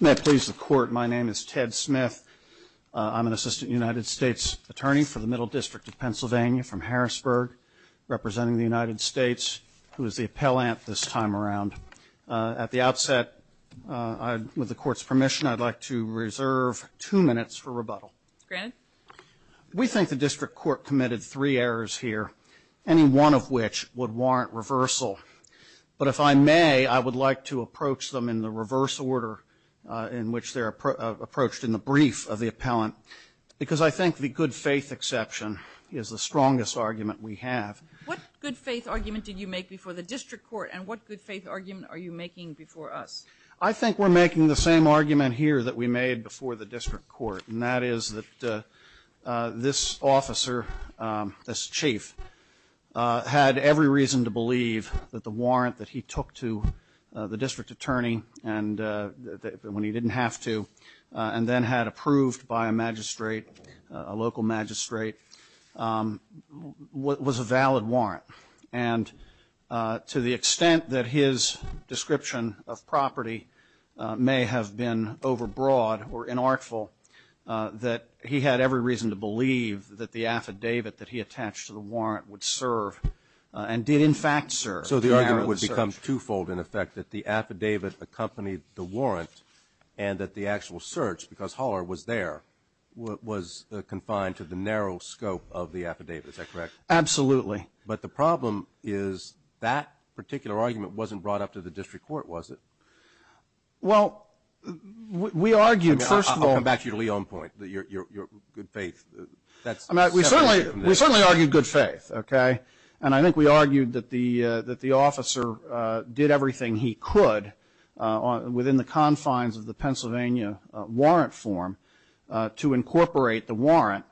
May it please the court, my name is Ted Smith. I'm an assistant United States attorney for the Middle District of Pennsylvania from Harrisburg, representing the United States, who is the appellant this time around. At the outset, with the court's permission, I'd like to reserve two minutes for rebuttal. We think the district court committed three errors here, any one of which would warrant reversal. But if I may, I would like to approach them in the reverse order in which they're approached in the brief of the appellant, because I think the good faith exception is the strongest argument we have. What good faith argument did you make before the district court and what good faith argument are you making before us? I think we're making the same argument here that we made before the district court, and that is that this officer, this chief, had every reason to believe that the warrant that he took to the district attorney when he didn't have to, and then had approved by a magistrate, a local magistrate, was a valid warrant. And to the extent that his description of property may have been overbroad or inartful, that he had every reason to believe that the affidavit that he attached to the warrant would serve, and did in fact serve. So the argument would become twofold in effect, that the affidavit accompanied the warrant and that the actual search, because Haller was there, was confined to the narrow scope of the affidavit, is that correct? Absolutely. But the problem is that particular argument wasn't brought up to the district court, was it? Well, we argued, first of all. I'll come back to your Leon point, your good faith. We certainly argued good faith, okay? And I think we argued that the officer did everything he could within the confines of the Pennsylvania warrant form to incorporate the warrant,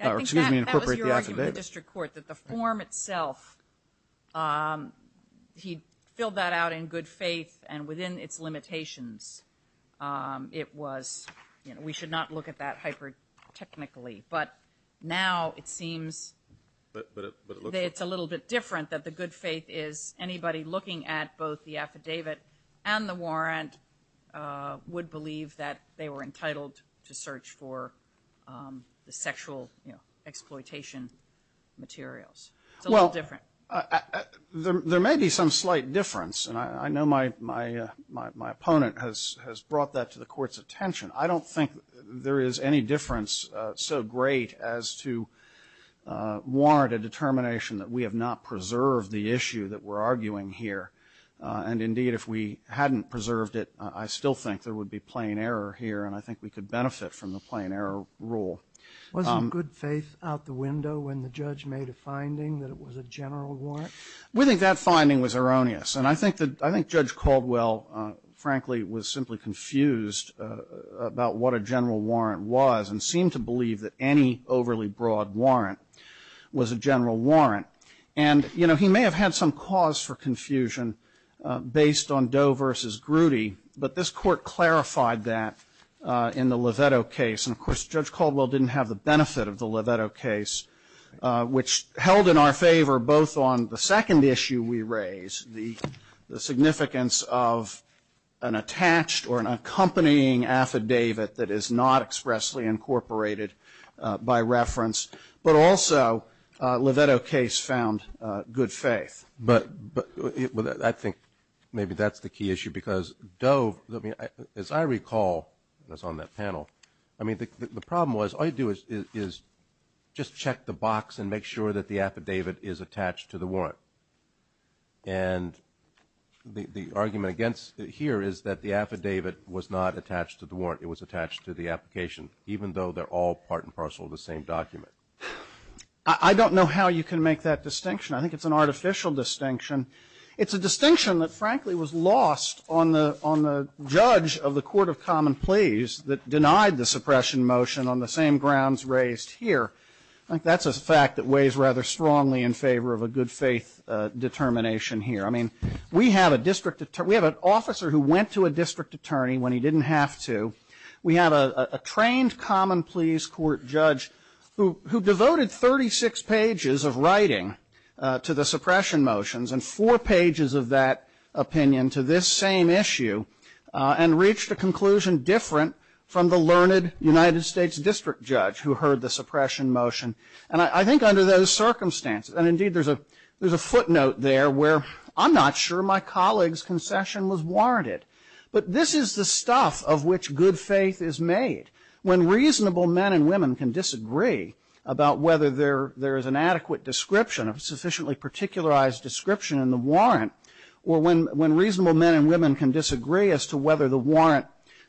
or excuse me, incorporate the affidavit. We argued in the district court that the form itself, he filled that out in good faith and within its limitations. It was, you know, we should not look at that hyper-technically. But now it seems it's a little bit different that the good faith is anybody looking at both the affidavit and the warrant would believe that they were entitled to search for the sexual, you know, materials. It's a little different. Well, there may be some slight difference, and I know my opponent has brought that to the court's attention. I don't think there is any difference so great as to warrant a determination that we have not preserved the issue that we're arguing here. And, indeed, if we hadn't preserved it, I still think there would be plain error here, and I think we could benefit from the plain error rule. Wasn't good faith out the window when the judge made a finding that it was a general warrant? We think that finding was erroneous. And I think that Judge Caldwell, frankly, was simply confused about what a general warrant was and seemed to believe that any overly broad warrant was a general warrant. And, you know, he may have had some cause for confusion based on Doe v. Groody, but this Court clarified that in the Lovetto case. And, of course, Judge Caldwell didn't have the benefit of the Lovetto case, which held in our favor both on the second issue we raised, the significance of an attached or an accompanying affidavit that is not expressly incorporated by reference, but also Lovetto case found good faith. But I think maybe that's the key issue, because Doe, as I recall, as on that panel, I mean, the problem was all you do is just check the box and make sure that the affidavit is attached to the warrant. And the argument against it here is that the affidavit was not attached to the warrant. It was attached to the application, even though they're all part and parcel of the same document. I don't know how you can make that distinction. I think it's an artificial distinction. It's a distinction that, frankly, was lost on the judge of the Court of Common Pleas that denied the suppression motion on the same grounds raised here. I think that's a fact that weighs rather strongly in favor of a good faith determination here. I mean, we have an officer who went to a district attorney when he didn't have to. We have a trained common pleas court judge who devoted 36 pages of writing to the suppression motions and four pages of that opinion to this same issue and reached a conclusion different from the learned United States district judge who heard the suppression motion. And I think under those circumstances, and indeed there's a footnote there where I'm not sure my colleague's concession was warranted, but this is the stuff of which good faith is made. When reasonable men and women can disagree about whether there is an adequate description, a sufficiently particularized description in the warrant, or when reasonable men and women can disagree as to whether the warrant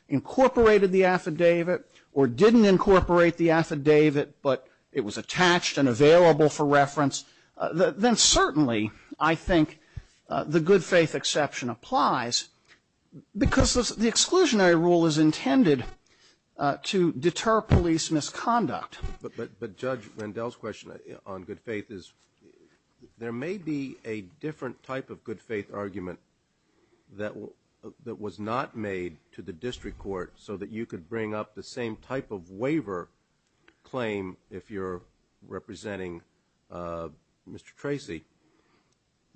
incorporated the affidavit or didn't incorporate the affidavit but it was attached and available for reference, then certainly I think the good faith exception applies. Because the exclusionary rule is intended to deter police misconduct. But Judge Vandell's question on good faith is there may be a different type of good faith argument that was not made to the district court so that you could bring up the same type of waiver claim if you're representing Mr. Tracy.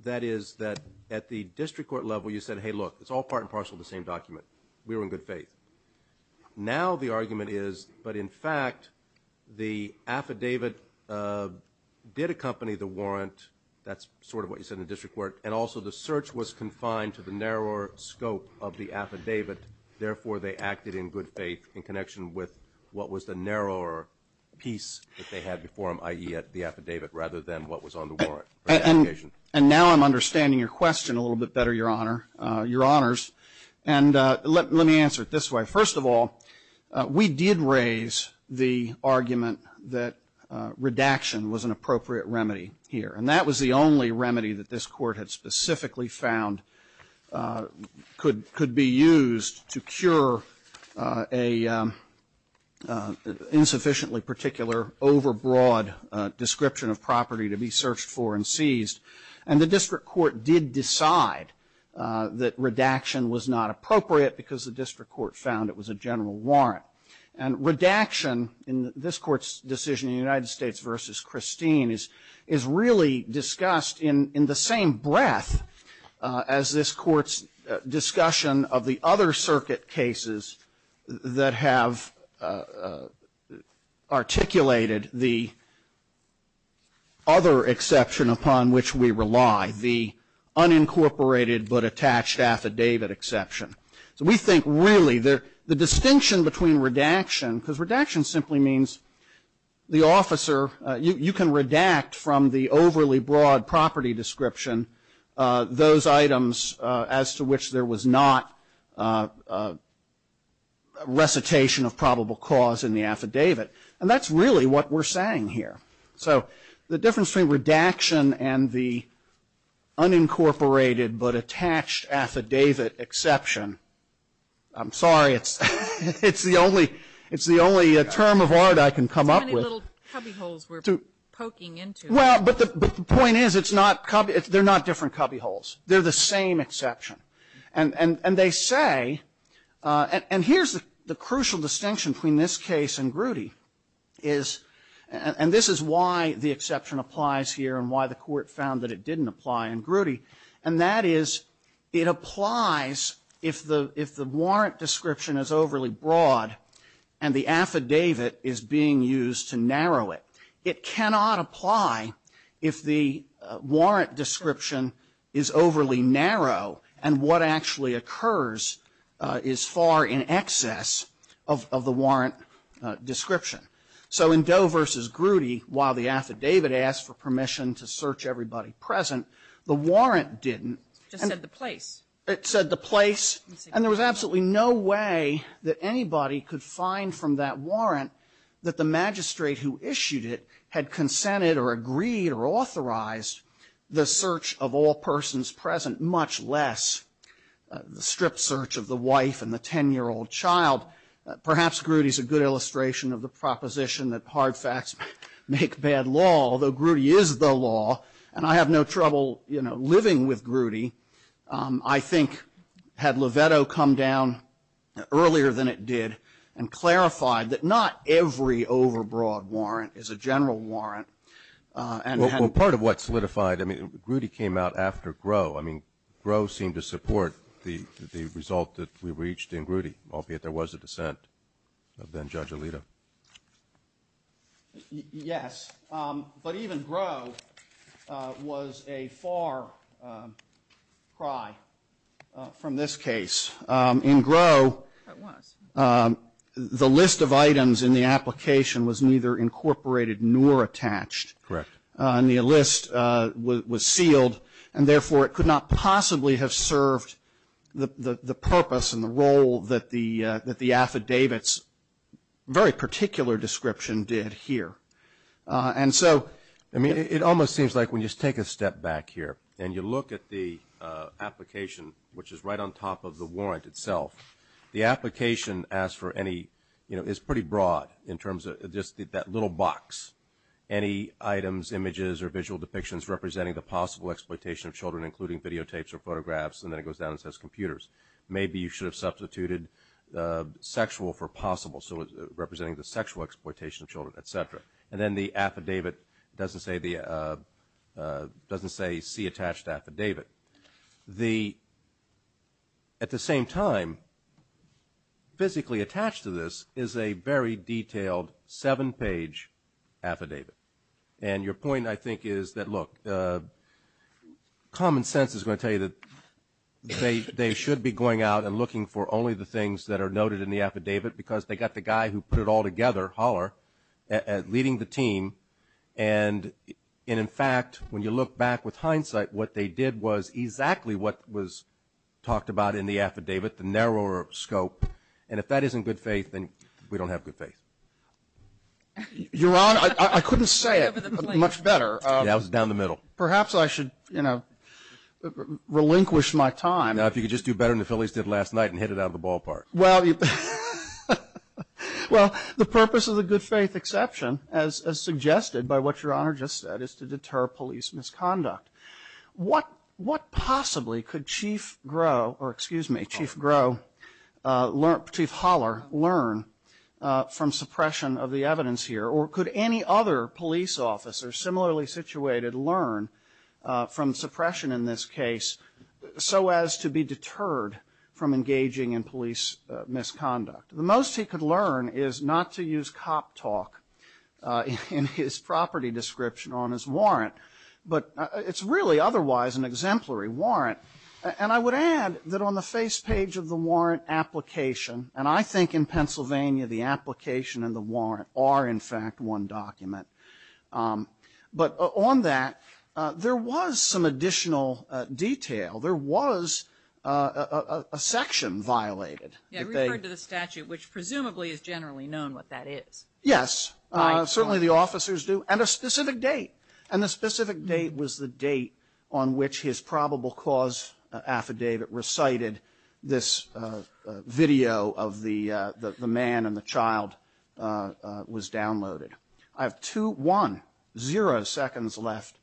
That is that at the district court level you said, hey, look, it's all part and parcel of the same document. We were in good faith. Now the argument is, but in fact, the affidavit did accompany the warrant. That's sort of what you said in the district court. And also the search was confined to the narrower scope of the affidavit. Therefore, they acted in good faith in connection with what was the narrower piece that they had before them, i.e., the affidavit, rather than what was on the warrant. And now I'm understanding your question a little bit better, Your Honor, Your Honors. And let me answer it this way. First of all, we did raise the argument that redaction was an appropriate remedy here. And that was the only remedy that this court had specifically found could be used to cure an insufficiently particular overbroad description of property to be searched for and seized. And the district court did decide that redaction was not appropriate because the district court found it was a general warrant. And redaction in this Court's decision in the United States v. Christine is really discussed in the same breath as this Court's discussion of the other circuit cases that have articulated the other exception upon which we rely, the unincorporated but attached affidavit exception. So we think really the distinction between redaction, because redaction simply means the officer, you can redact from the overly broad property description those items as to which there was not recitation of probable cause in the affidavit. And that's really what we're saying here. So the difference between redaction and the unincorporated but attached affidavit exception, I'm sorry, it's the only term of art I can come up with. Well, but the point is it's not, they're not different cubbyholes. They're the same exception. And they say, and here's the crucial distinction between this case and Grutti is, and this is why the exception applies here and why the Court found that it didn't apply in Grutti, and that is it applies if the warrant description is overly broad and the affidavit is being used to narrow it. It cannot apply if the warrant description is overly narrow and what actually occurs is far in excess of the warrant description. So in Doe v. Grutti, while the affidavit asked for permission to search everybody present, the warrant didn't. It just said the place. It said the place. And there was absolutely no way that anybody could find from that warrant that the magistrate who issued it had consented or agreed or authorized the search of all persons present, much less the stripped search of the wife and the 10-year-old child. Perhaps Grutti is a good illustration of the proposition that hard facts make bad law, although Grutti is the law. And I have no trouble, you know, living with Grutti. I think had Loveto come down earlier than it did and clarified that not every overbroad warrant is a general warrant. Well, part of what solidified, I mean, Grutti came out after Groh. I mean, Groh seemed to support the result that we reached in Grutti, albeit there was a dissent of then-Judge Alito. Yes. But even Groh was a far cry from this case. In Groh, the list of items in the application was neither incorporated nor attached. Correct. And the list was sealed, and therefore it could not possibly have served the purpose and the role that the affidavit's very particular description did here. And so ---- I mean, it almost seems like when you take a step back here and you look at the application, which is right on top of the warrant itself, the application, as for any, you know, is pretty broad in terms of just that little box, any items, images, or visual depictions representing the possible exploitation of children, including videotapes or photographs, and then it goes down and says computers. Maybe you should have substituted sexual for possible, so representing the sexual exploitation of children, et cetera. And then the affidavit doesn't say C attached to affidavit. At the same time, physically attached to this is a very detailed seven-page affidavit. And your point, I think, is that, look, common sense is going to tell you that they should be going out and looking for only the things that are noted in the affidavit because they got the guy who put it all together, Holler, leading the team. And, in fact, when you look back with hindsight, what they did was exactly what was talked about in the affidavit, the narrower scope. And if that isn't good faith, then we don't have good faith. Your Honor, I couldn't say it much better. Yeah, I was down the middle. Perhaps I should, you know, relinquish my time. No, if you could just do better than the Phillies did last night and hit it out of the ballpark. Well, the purpose of the good faith exception, as suggested by what Your Honor just said, is to deter police misconduct. What possibly could Chief Grow, or excuse me, Chief Grow, Chief Holler, learn from suppression of the evidence here? Or could any other police officer similarly situated learn from suppression in this case so as to be deterred from engaging in police misconduct? The most he could learn is not to use cop talk in his property description on his warrant. But it's really otherwise an exemplary warrant. And I would add that on the face page of the warrant application, and I think in Pennsylvania the application and the warrant are, in fact, one document. But on that, there was some additional detail. There was a section violated. Yeah, it referred to the statute, which presumably is generally known what that is. Yes, certainly the officers do, and a specific date. And the specific date was the date on which his probable cause affidavit recited this video of the man and the child was downloaded. I have two, one, zero seconds left.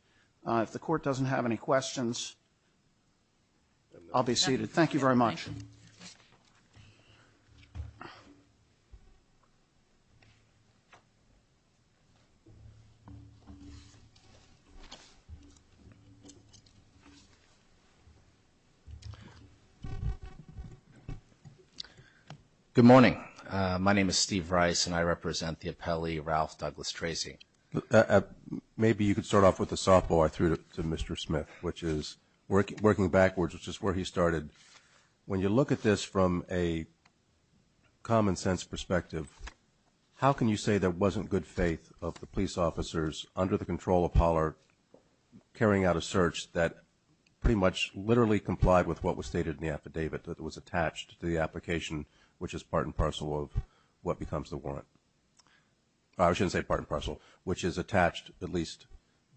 If the court doesn't have any questions, I'll be seated. Thank you very much. Good morning. My name is Steve Rice, and I represent the appellee, Ralph Douglas Tracy. Maybe you could start off with the softball I threw to Mr. Smith, which is working backwards, which is where he started. When you look at this from a common sense perspective, how can you say there wasn't good faith of the police officers under the control of Pollard carrying out a search that pretty much literally complied with what was stated in the affidavit, that it was attached to the application, which is part and parcel of what becomes the warrant? I shouldn't say part and parcel, which is attached at least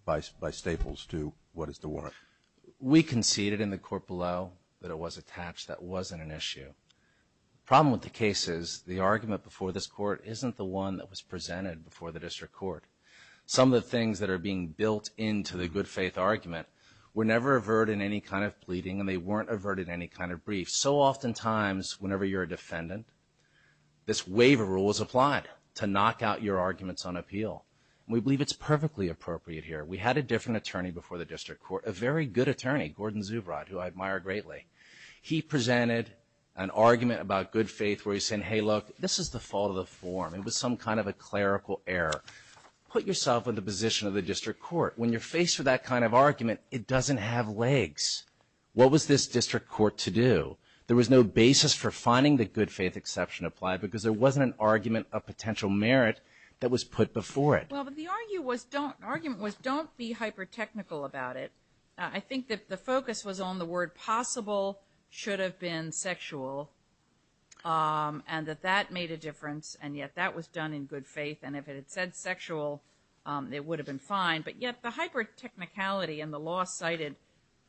by staples to what is the warrant. We conceded in the court below that it was attached. That wasn't an issue. The problem with the case is the argument before this court isn't the one that was presented before the district court. Some of the things that are being built into the good faith argument were never averted in any kind of pleading, and they weren't averted in any kind of brief. So oftentimes, whenever you're a defendant, this waiver rule is applied to knock out your arguments on appeal. We believe it's perfectly appropriate here. We had a different attorney before the district court, a very good attorney, Gordon Zubrod, who I admire greatly. He presented an argument about good faith where he said, hey, look, this is the fault of the form. It was some kind of a clerical error. Put yourself in the position of the district court. When you're faced with that kind of argument, it doesn't have legs. What was this district court to do? There was no basis for finding the good faith exception applied because there wasn't an argument of potential merit that was put before it. Well, but the argument was don't be hyper-technical about it. I think that the focus was on the word possible should have been sexual and that that made a difference, and yet that was done in good faith, and if it had said sexual, it would have been fine. But yet the hyper-technicality in the law cited,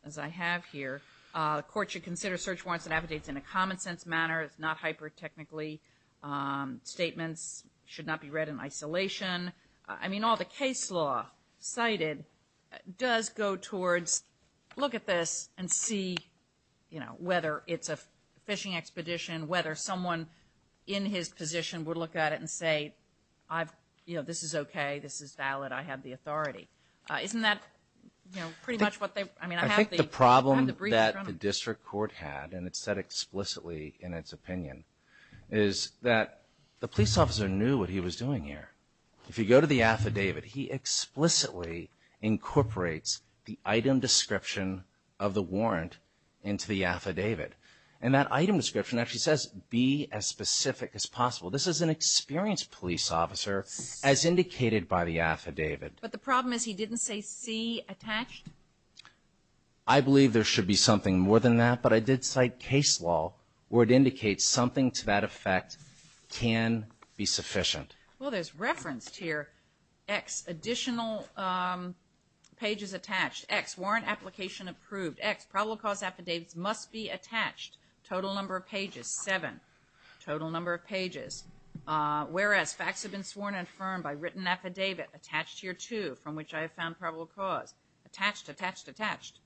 as I have here, the court should consider search warrants and affidavits in a common sense manner, not hyper-technically. Statements should not be read in isolation. I mean, all the case law cited does go towards look at this and see, you know, whether it's a fishing expedition, whether someone in his position would look at it and say, you know, this is okay, this is valid, I have the authority. Isn't that, you know, pretty much what they've, I mean, I have the briefs from it. I think the problem that the district court had, and it said explicitly in its opinion, is that the police officer knew what he was doing here. If you go to the affidavit, he explicitly incorporates the item description of the warrant into the affidavit, and that item description actually says be as specific as possible. This is an experienced police officer, as indicated by the affidavit. But the problem is he didn't say see attached? I believe there should be something more than that, but I did cite case law where it indicates something to that effect can be sufficient. Well, there's referenced here X additional pages attached, X warrant application approved, X probable cause affidavits must be attached, total number of pages, seven, total number of pages. Whereas facts have been sworn and affirmed by written affidavit attached here too, from which I have found probable cause. Attached, attached, attached.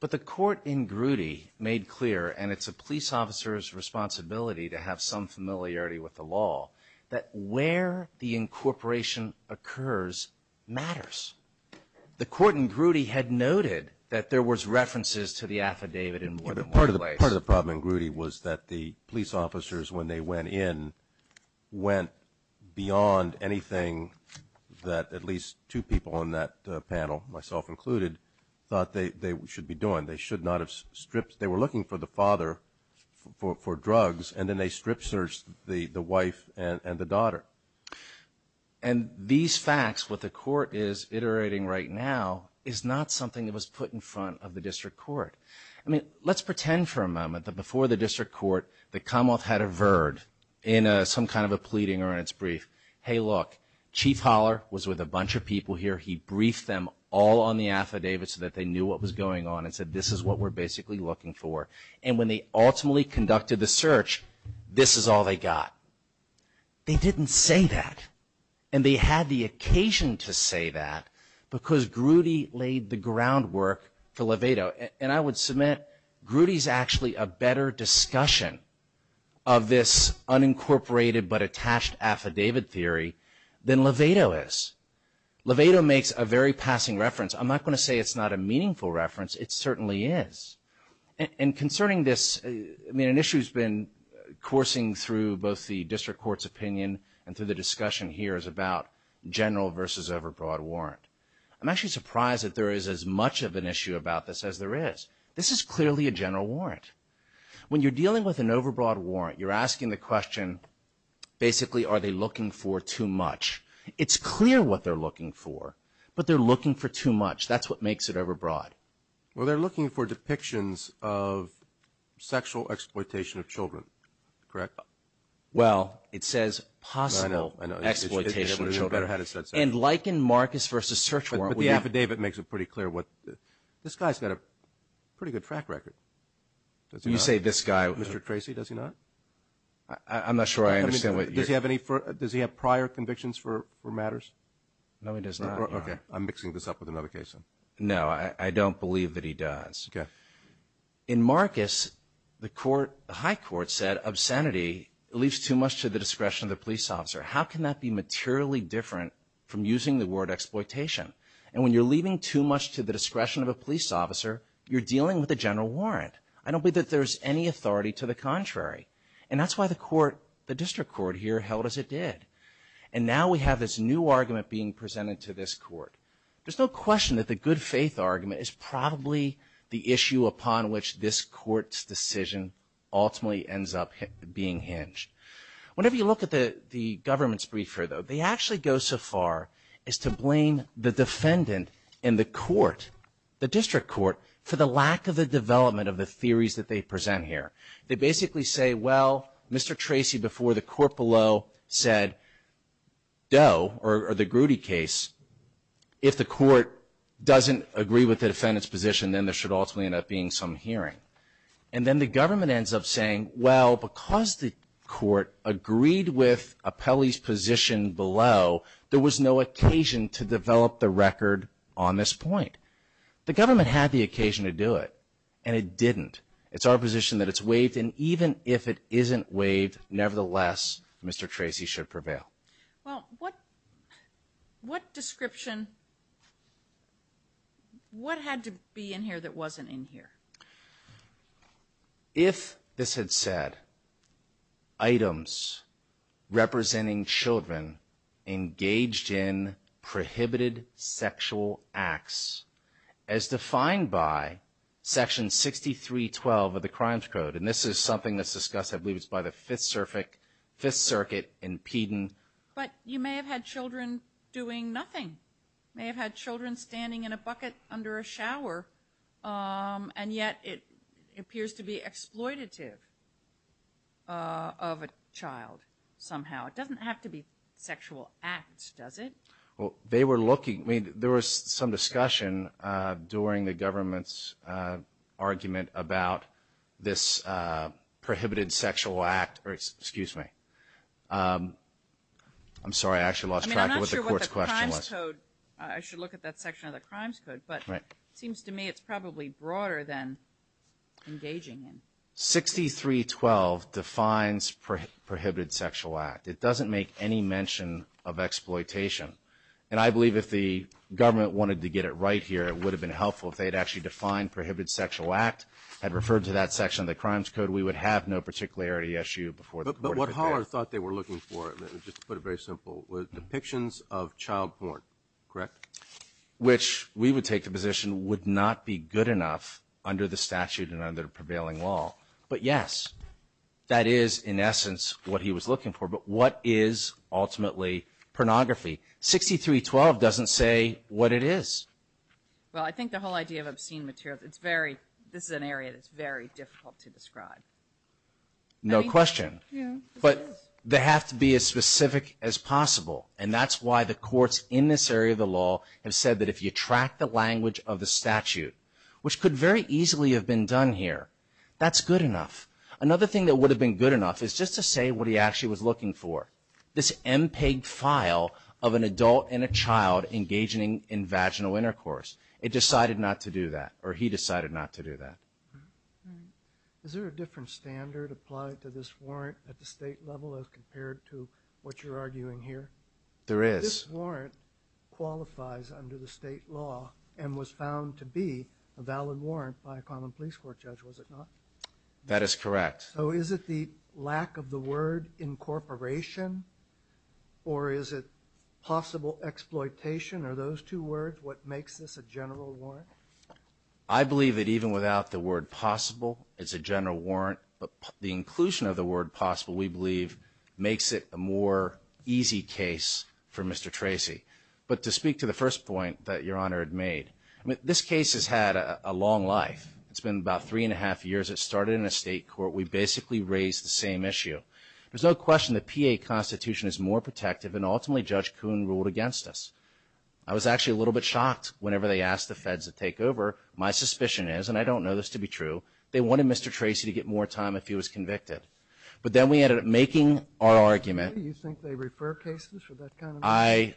But the court in Grudy made clear, and it's a police officer's responsibility to have some familiarity with the law, that where the incorporation occurs matters. The court in Grudy had noted that there was references to the affidavit in more than one place. Part of the problem in Grudy was that the police officers, when they went in, went beyond anything that at least two people on that panel, myself included, thought they should be doing. They should not have stripped. They were looking for the father for drugs, and then they strip searched the wife and the daughter. And these facts, what the court is iterating right now, is not something that was put in front of the district court. I mean, let's pretend for a moment that before the district court, the Commonwealth had averred in some kind of a pleading or in its brief. Hey, look, Chief Holler was with a bunch of people here. He briefed them all on the affidavit so that they knew what was going on and said this is what we're basically looking for. And when they ultimately conducted the search, this is all they got. They didn't say that, and they had the occasion to say that because Grudy laid the groundwork for Levado. And I would submit Grudy is actually a better discussion of this unincorporated but attached affidavit theory than Levado is. Levado makes a very passing reference. I'm not going to say it's not a meaningful reference. It certainly is. And concerning this, I mean, an issue that's been coursing through both the district court's opinion and through the discussion here is about general versus over broad warrant. I'm actually surprised that there is as much of an issue about this as there is. This is clearly a general warrant. When you're dealing with an over broad warrant, you're asking the question, basically, are they looking for too much? It's clear what they're looking for, but they're looking for too much. That's what makes it over broad. Well, they're looking for depictions of sexual exploitation of children, correct? Well, it says possible exploitation of children. And like in Marcus v. Search Warrant. But the affidavit makes it pretty clear. This guy's got a pretty good track record. You say this guy. Mr. Tracy, does he not? I'm not sure I understand what you're saying. Does he have prior convictions for matters? No, he does not. Okay. I'm mixing this up with another case. No, I don't believe that he does. Okay. In Marcus, the high court said obscenity leaves too much to the discretion of the police officer. How can that be materially different from using the word exploitation? And when you're leaving too much to the discretion of a police officer, you're dealing with a general warrant. I don't believe that there's any authority to the contrary. And that's why the court, the district court here, held as it did. And now we have this new argument being presented to this court. There's no question that the good faith argument is probably the issue upon which this court's decision ultimately ends up being hinged. Whenever you look at the government's brief here, though, they actually go so far as to blame the defendant and the court, the district court, for the lack of the development of the theories that they present here. They basically say, well, Mr. Tracy, before the court below, said, though, or the Grudy case, if the court doesn't agree with the defendant's position, then there should ultimately end up being some hearing. And then the government ends up saying, well, because the court agreed with Apelli's position below, there was no occasion to develop the record on this point. The government had the occasion to do it, and it didn't. It's our position that it's waived, and even if it isn't waived, nevertheless, Mr. Tracy should prevail. Well, what description, what had to be in here that wasn't in here? If this had said, items representing children engaged in prohibited sexual acts, as defined by Section 6312 of the Crimes Code, and this is something that's discussed, I believe it's by the Fifth Circuit in Peden. But you may have had children doing nothing. You may have had children standing in a bucket under a shower, and yet it appears to be exploitative of a child somehow. It doesn't have to be sexual acts, does it? Well, they were looking. There was some discussion during the government's argument about this prohibited sexual act. Excuse me. I'm sorry, I actually lost track of what the court's question was. I'm not sure what the Crimes Code, I should look at that section of the Crimes Code, but it seems to me it's probably broader than engaging in. 6312 defines prohibited sexual act. It doesn't make any mention of exploitation. And I believe if the government wanted to get it right here, it would have been helpful if they had actually defined prohibited sexual act, had referred to that section of the Crimes Code, we would have no particularity issue before the court could do it. But what Haller thought they were looking for, just to put it very simple, was depictions of child porn, correct? Which we would take the position would not be good enough under the statute and under the prevailing law. But, yes, that is, in essence, what he was looking for. But what is, ultimately, pornography? 6312 doesn't say what it is. Well, I think the whole idea of obscene materials, this is an area that's very difficult to describe. No question. But they have to be as specific as possible. And that's why the courts in this area of the law have said that if you track the language of the statute, which could very easily have been done here, that's good enough. Another thing that would have been good enough is just to say what he actually was looking for, this MPEG file of an adult and a child engaging in vaginal intercourse. It decided not to do that, or he decided not to do that. Is there a different standard applied to this warrant at the state level as compared to what you're arguing here? There is. This warrant qualifies under the state law and was found to be a valid warrant by a common police court judge, was it not? That is correct. So is it the lack of the word incorporation, or is it possible exploitation? Are those two words what makes this a general warrant? I believe that even without the word possible, it's a general warrant. But the inclusion of the word possible, we believe, makes it a more easy case for Mr. Tracy. But to speak to the first point that Your Honor had made, this case has had a long life. It's been about three and a half years. It started in a state court. We basically raised the same issue. There's no question the PA Constitution is more protective, and ultimately Judge Kuhn ruled against us. I was actually a little bit shocked whenever they asked the feds to take over. My suspicion is, and I don't know this to be true, they wanted Mr. Tracy to get more time if he was convicted. But then we ended up making our argument. Do you think they refer cases for that kind of money?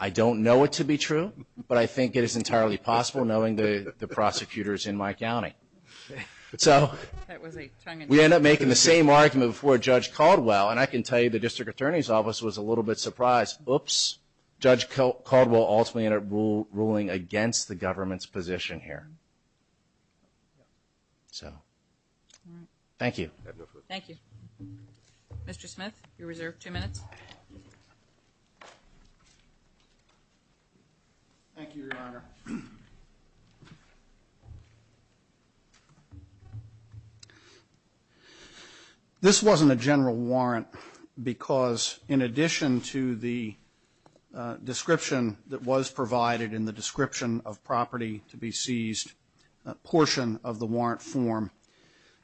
I don't know it to be true, but I think it is entirely possible, knowing the prosecutors in my county. So we ended up making the same argument before Judge Caldwell, and I can tell you the district attorney's office was a little bit surprised. Oops, Judge Caldwell ultimately ended up ruling against the government's position here. So thank you. Thank you. Mr. Smith, you're reserved two minutes. Thank you, Your Honor. This wasn't a general warrant because in addition to the description that was provided in the description of property to be seized portion of the warrant form,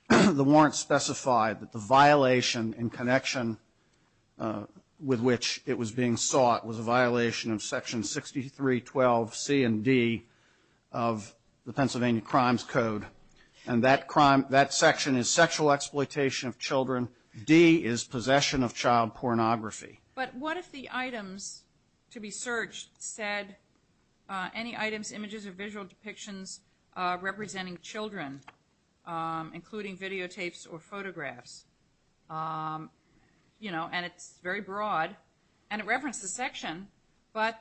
the warrant specified that the violation in connection with which it was being sought was a violation of Section 6312C and D of the Pennsylvania Crimes Code. And that section is sexual exploitation of children. D is possession of child pornography. But what if the items to be searched said any items, images, or visual depictions representing children, including videotapes or photographs, you know, and it's very broad and it references the section, but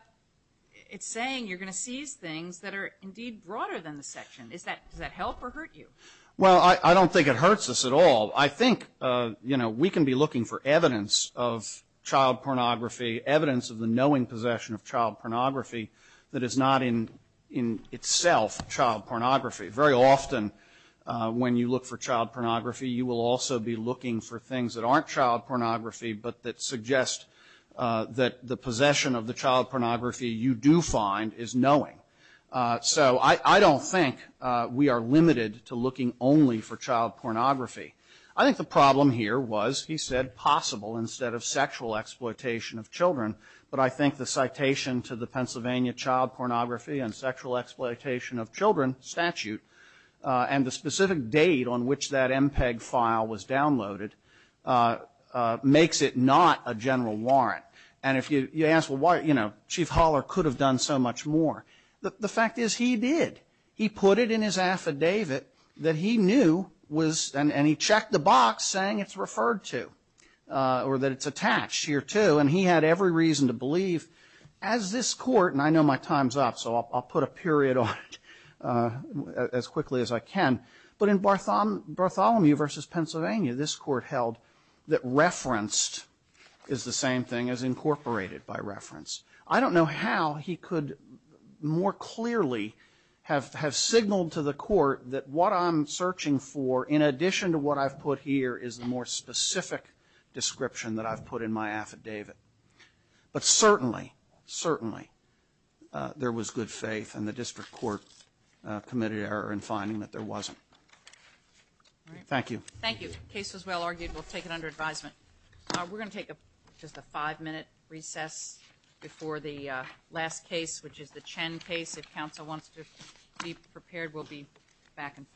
it's saying you're going to seize things that are indeed broader than the section. Does that help or hurt you? Well, I don't think it hurts us at all. I think we can be looking for evidence of child pornography, evidence of the knowing possession of child pornography that is not in itself child pornography. Very often when you look for child pornography, you will also be looking for things that aren't child pornography but that suggest that the possession of the child pornography you do find is knowing. So I don't think we are limited to looking only for child pornography. I think the problem here was he said possible instead of sexual exploitation of children, but I think the citation to the Pennsylvania Child Pornography and Sexual Exploitation of Children statute and the specific date on which that MPEG file was downloaded makes it not a general warrant. And if you ask, well, why, you know, Chief Holler could have done so much more. The fact is he did. He put it in his affidavit that he knew was, and he checked the box saying it's referred to or that it's attached here, too, and he had every reason to believe as this court, and I know my time's up, so I'll put a period on it as quickly as I can, but in Bartholomew v. Pennsylvania, this court held that referenced is the same thing as incorporated by reference. I don't know how he could more clearly have signaled to the court that what I'm searching for, in addition to what I've put here, is the more specific description that I've put in my affidavit. But certainly, certainly there was good faith, and the district court committed error in finding that there wasn't. Thank you. Thank you. The case was well argued. We'll take it under advisement. We're going to take just a five-minute recess before the last case, which is the Chen case. If counsel wants to be prepared, we'll be back in five minutes.